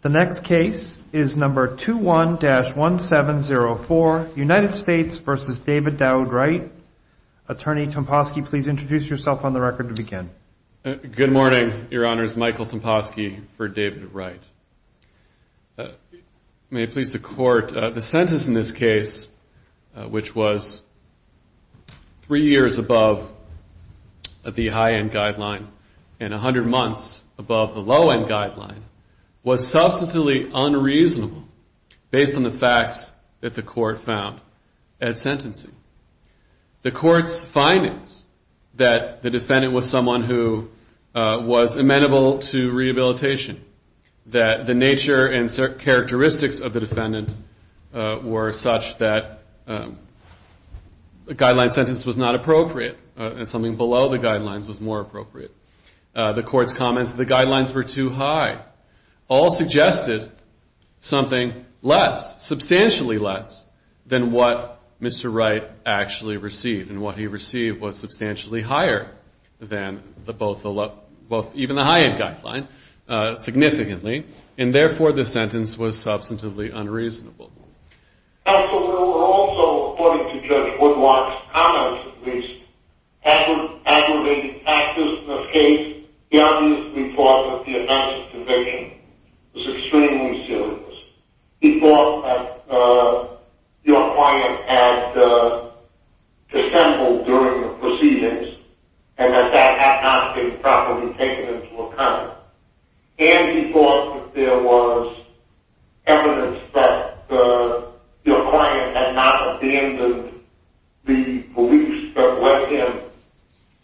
The next case is number 21-1704, United States v. David Dowd Wright. Attorney Tomposki, please introduce yourself on the record to begin. Good morning, your honors, Michael Tomposki for David Wright. May it please the court, the sentence in this case, which was three years above the high end guideline and 100 months above the low end guideline, was substantially unreasonable based on the facts that the court found at sentencing. The court's findings that the defendant was someone who was amenable to rehabilitation, that the nature and characteristics of the defendant were such that a guideline sentence was not appropriate and something below the guidelines was more appropriate. The court's comments that the guidelines were too high all suggested something less, substantially less than what Mr. Wright actually received, and what he received was substantially higher than even the high end guideline significantly, and therefore the sentence was substantively unreasonable. Counsel, there were also, according to Judge Woodlock's comments at least, aggravated factors in this case. He obviously thought that the announced conviction was extremely serious. He thought that your client had dissembled during the proceedings, and that that had not been properly taken into account. And he thought that there was evidence that your client had not abandoned the police but went in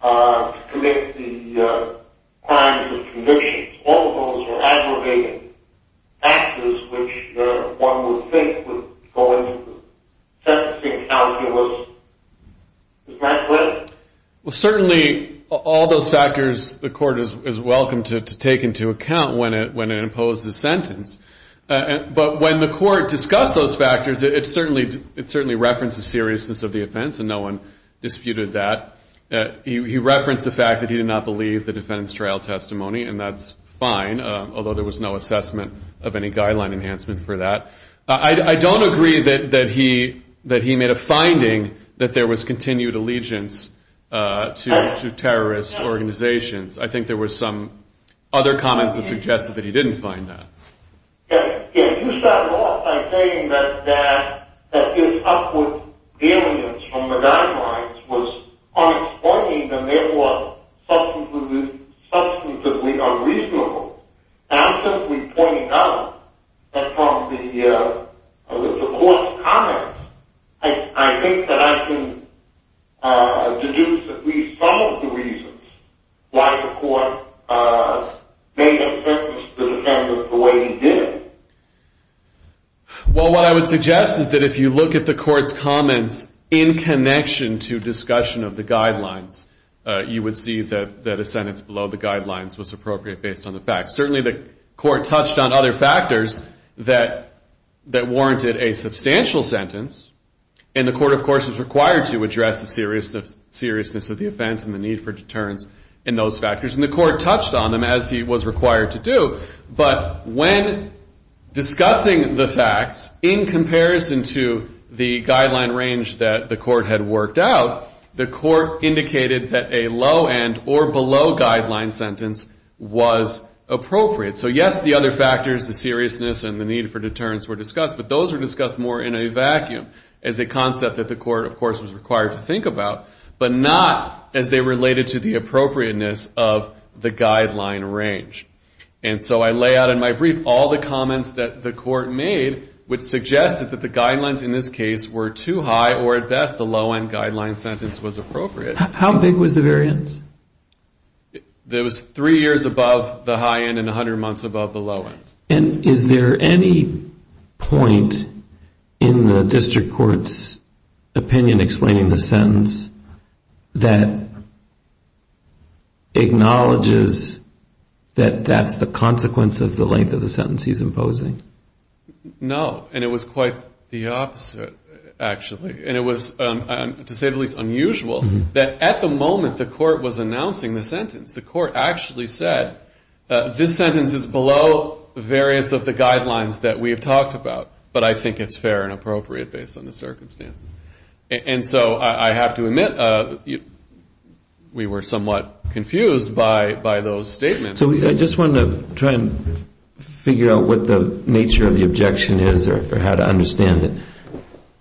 to commit the crimes of conviction. All of those were aggravated factors which one would think would go into the sentencing calculus. Is that correct? Well, certainly all those factors the court is welcome to take into account when it imposes a sentence. But when the court discussed those factors, it certainly referenced the seriousness of the offense, and no one disputed that. He referenced the fact that he did not believe the defendant's trial testimony, and that's fine, although there was no assessment of any guideline enhancement for that. I don't agree that he made a finding that there was continued allegiance to terrorist organizations. I think there were some other comments that suggested that he didn't find that. Yeah, you started off by saying that his upward alienance from the guidelines was unexplained, and therefore substantively unreasonable. And I'm simply pointing out that from the court's comments, I think that I can deduce at least some of the reasons why the court made a sentence to the defendant the way he did. Well, what I would suggest is that if you look at the court's comments in connection to discussion of the guidelines, you would see that a sentence below the guidelines was appropriate based on the facts. Certainly, the court touched on other factors that warranted a substantial sentence, and the court, of course, is required to address the seriousness of the offense and the need for deterrence in those factors. And the court touched on them, as he was required to do. But when discussing the facts in comparison to the guideline range that the court had worked out, the court indicated that a low-end or below-guideline sentence was appropriate. So, yes, the other factors, the seriousness and the need for deterrence were discussed, but those were discussed more in a vacuum as a concept that the court, of course, was required to think about, but not as they related to the appropriateness of the guideline range. And so I lay out in my brief all the comments that the court made which suggested that the below-guideline sentence was appropriate. How big was the variance? It was three years above the high-end and 100 months above the low-end. And is there any point in the district court's opinion explaining the sentence that acknowledges that that's the consequence of the length of the sentence he's imposing? No, and it was quite the opposite, actually. And it was, to say the least, unusual that at the moment the court was announcing the sentence, the court actually said, this sentence is below various of the guidelines that we have talked about, but I think it's fair and appropriate based on the circumstances. And so I have to admit we were somewhat confused by those statements. So I just wanted to try and figure out what the nature of the objection is or how to understand it.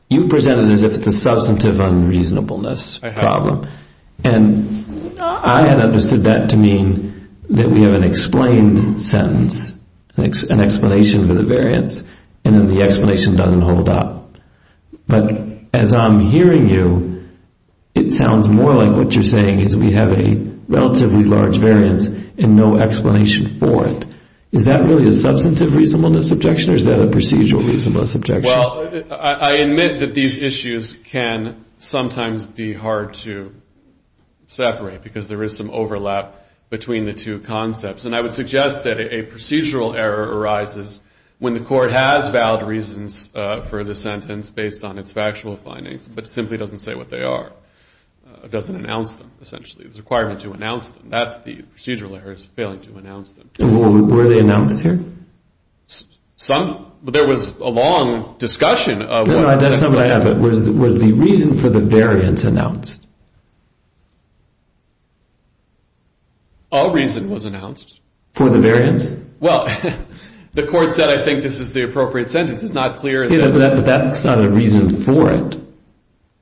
You presented it as if it's a substantive unreasonableness problem, and I had understood that to mean that we have an explained sentence, an explanation for the variance, and then the explanation doesn't hold up. But as I'm hearing you, it sounds more like what you're saying is we have a relatively large variance and no explanation for it. Is that really a substantive reasonableness objection or is that a procedural reasonableness objection? Well, I admit that these issues can sometimes be hard to separate because there is some overlap between the two concepts. And I would suggest that a procedural error arises when the court has valid reasons for the sentence based on its factual findings but simply doesn't say what they are, doesn't announce them, essentially. It's a requirement to announce them. That's the procedural error is failing to announce them. Were they announced here? There was a long discussion of what the sentence was. Was the reason for the variance announced? A reason was announced. For the variance? Well, the court said, I think this is the appropriate sentence. It's not clear. But that's not a reason for it.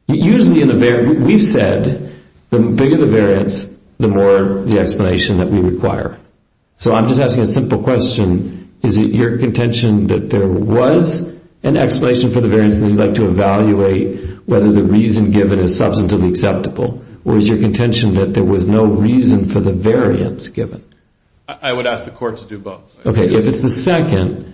Usually, we've said the bigger the variance, the more the explanation that we require. So I'm just asking a simple question. Is it your contention that there was an explanation for the variance and you'd like to evaluate whether the reason given is substantively acceptable? Or is your contention that there was no reason for the variance given? I would ask the court to do both. Okay, if it's the second,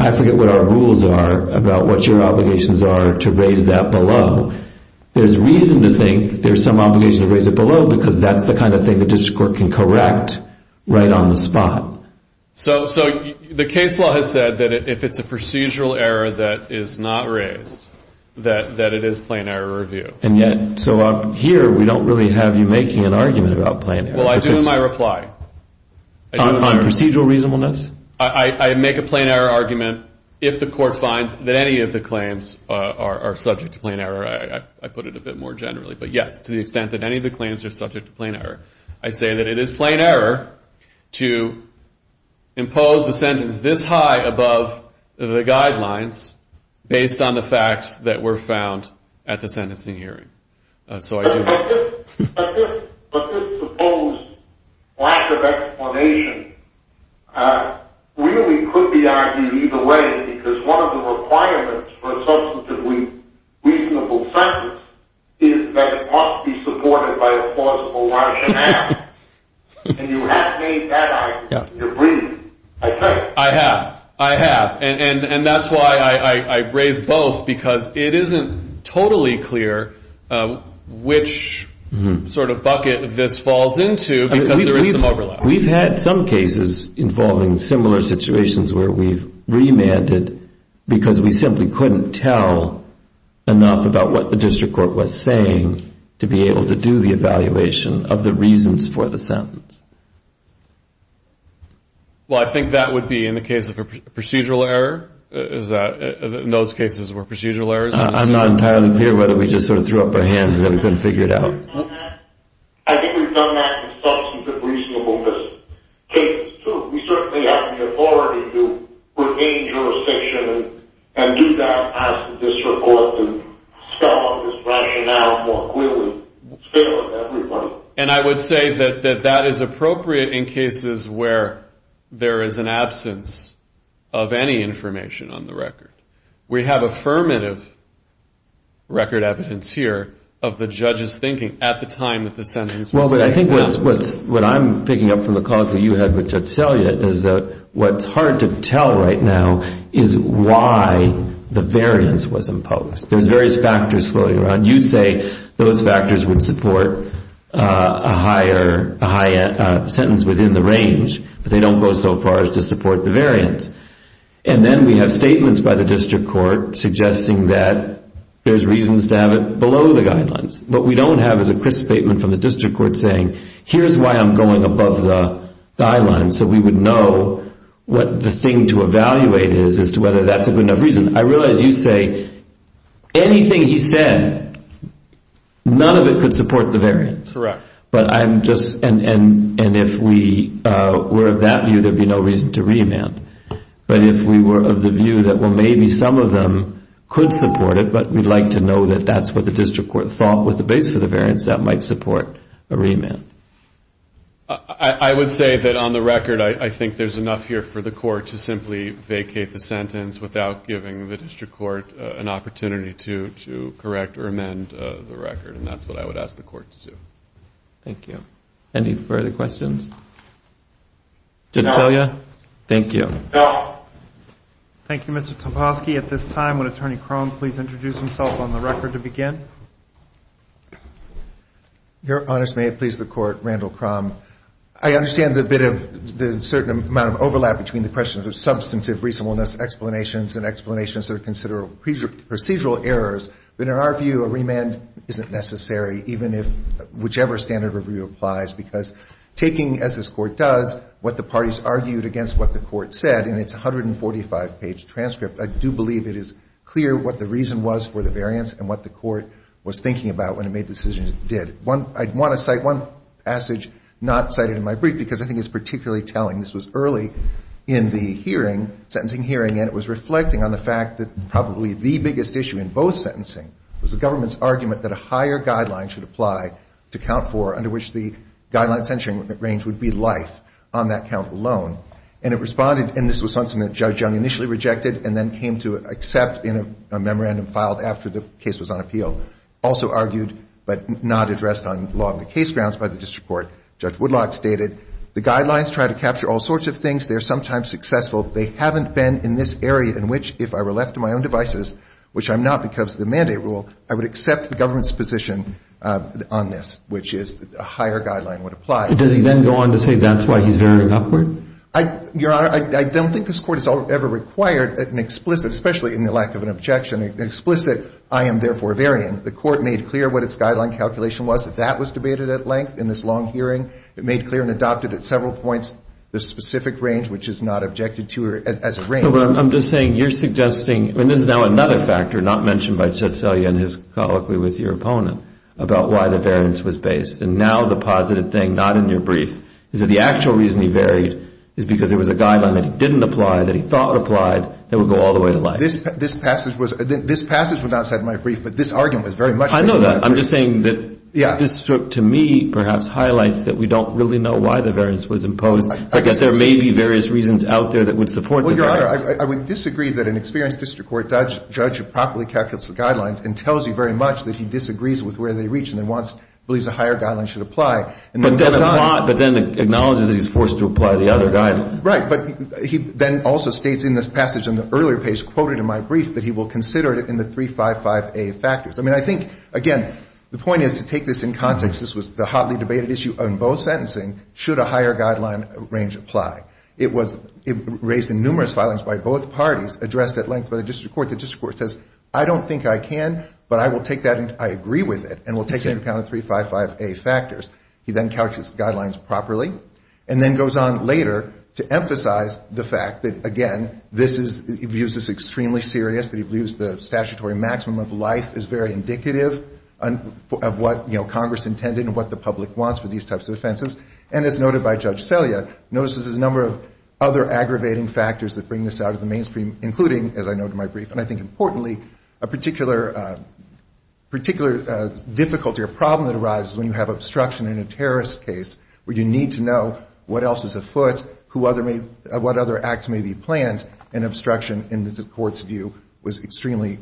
I forget what our rules are about what your obligations are to raise that below. There's reason to think there's some obligation to raise it below because that's the kind of thing the district court can correct right on the spot. So the case law has said that if it's a procedural error that is not raised, that it is plain error review. So up here, we don't really have you making an argument about plain error. Well, I do in my reply. On procedural reasonableness? I make a plain error argument if the court finds that any of the claims are subject to plain error. I put it a bit more generally. But yes, to the extent that any of the claims are subject to plain error. I say that it is plain error to impose a sentence this high above the guidelines based on the facts that were found at the sentencing hearing. But this supposed lack of explanation really could be argued either way because one of the requirements for a substantively reasonable sentence is that it must be supported by a plausible rationale. And you have made that argument. I agree. I say it. I have. I have. And that's why I raise both because it isn't totally clear which sort of bucket this falls into because there is some overlap. We've had some cases involving similar situations where we've remanded because we simply couldn't tell enough about what the district court was saying to be able to do the evaluation of the reasons for the sentence. Well, I think that would be in the case of a procedural error. Those cases were procedural errors. I'm not entirely clear whether we just sort of threw up our hands and then couldn't figure it out. I think we've done that with substantive reasonableness cases, too. We certainly have the authority to remain jurisdiction and do that as the district court to scoff at this rationale more clearly. It's fair to everybody. And I would say that that is appropriate in cases where there is an absence of any information on the record. We have affirmative record evidence here of the judge's thinking at the time that the sentence was made. Well, I think what I'm picking up from the call that you had with Judge Selya is that what's hard to tell right now is why the variance was imposed. There's various factors floating around. You say those factors would support a sentence within the range, but they don't go so far as to support the variance. And then we have statements by the district court suggesting that there's reasons to have it below the guidelines. What we don't have is a crisp statement from the district court saying, here's why I'm going above the guidelines so we would know what the thing to evaluate is as to whether that's a good enough reason. I realize you say anything he said, none of it could support the variance. Correct. And if we were of that view, there'd be no reason to remand. But if we were of the view that, well, maybe some of them could support it, but we'd like to know that that's what the district court thought was the base for the variance, that might support a remand. I would say that on the record, I think there's enough here for the court to simply vacate the sentence without giving the district court an opportunity to correct or amend the record, and that's what I would ask the court to do. Thank you. Any further questions? Did I tell you? Thank you. Thank you, Mr. Topolsky. At this time, would Attorney Crum please introduce himself on the record to begin? Your Honors, may it please the Court, Randall Crum. I understand the certain amount of overlap between the questions of substantive reasonableness explanations and explanations that are considered procedural errors. But in our view, a remand isn't necessary, even if whichever standard of review applies, because taking, as this Court does, what the parties argued against what the Court said in its 145-page transcript, I do believe it is clear what the reason was for the variance and what the Court was thinking about when it made the decision it did. I want to cite one passage not cited in my brief because I think it's particularly telling. This was early in the hearing, sentencing hearing, and it was reflecting on the fact that probably the biggest issue in both sentencing was the government's argument that a higher guideline should apply to count for, under which the guideline censuring range would be life on that count alone. And it responded, and this was something that Judge Young initially rejected and then came to accept in a memorandum filed after the case was on appeal. Also argued but not addressed on law of the case grounds by the district court, Judge Woodlock stated, the guidelines try to capture all sorts of things. They are sometimes successful. They haven't been in this area in which if I were left to my own devices, which I'm not because of the mandate rule, I would accept the government's position on this, which is a higher guideline would apply. But does he then go on to say that's why he's varying upward? Your Honor, I don't think this Court has ever required an explicit, especially in the lack of an objection, explicit I am therefore varying. The Court made clear what its guideline calculation was. That was debated at length in this long hearing. It made clear and adopted at several points the specific range, which is not objected to as a range. I'm just saying you're suggesting, and this is now another factor not mentioned by Tsetselia in his colloquy with your opponent about why the variance was based. And now the positive thing, not in your brief, is that the actual reason he varied is because there was a guideline that he didn't apply, that he thought applied, that would go all the way to life. This passage was not said in my brief, but this argument was very much made in my brief. I know that. I'm just saying that this to me perhaps highlights that we don't really know why the variance was imposed. I guess there may be various reasons out there that would support the variance. Well, Your Honor, I would disagree that an experienced district court judge who properly calculates the guidelines and tells you very much that he disagrees with where they reach and then believes a higher guideline should apply. But then acknowledges that he's forced to apply the other guideline. Right. But he then also states in this passage on the earlier page quoted in my brief that he will consider it in the 355A factors. I mean, I think, again, the point is to take this in context. This was the hotly debated issue on both sentencing, should a higher guideline range apply. It was raised in numerous filings by both parties addressed at length by the district court. The district court says, I don't think I can, but I will take that and I agree with it and will take into account the 355A factors. He then calculates the guidelines properly and then goes on later to emphasize the fact that, again, this is, he views this extremely serious, that he views the statutory maximum of life as very indicative of what, you know, Congress intended and what the public wants for these types of offenses. And as noted by Judge Selya, notices a number of other aggravating factors that bring this out of the mainstream, including, as I note in my brief and I think importantly, a particular difficulty or problem that arises when you have obstruction in a terrorist case where you need to know what else is afoot, who other may, what other acts may be planned and obstruction in the court's view was extremely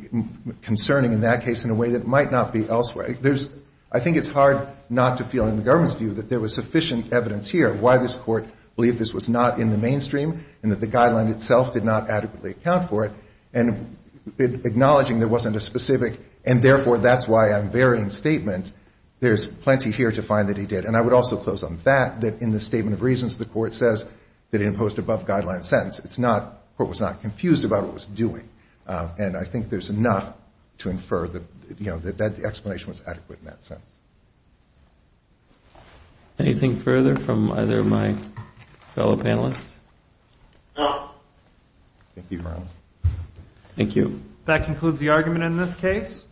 concerning in that case in a way that might not be elsewhere. There's, I think it's hard not to feel in the government's view that there was sufficient evidence here why this court believed this was not in the mainstream and that the guideline itself did not adequately account for it and acknowledging there wasn't a specific and therefore that's why I'm varying statement, there's plenty here to find that he did. And I would also close on that, that in the statement of reasons, the court says that it imposed above guideline sentence. It's not, the court was not confused about what it was doing. And I think there's enough to infer that, you know, that the explanation was adequate in that sense. Anything further from either of my fellow panelists? No. Thank you, Brown. Thank you. That concludes the argument in this case.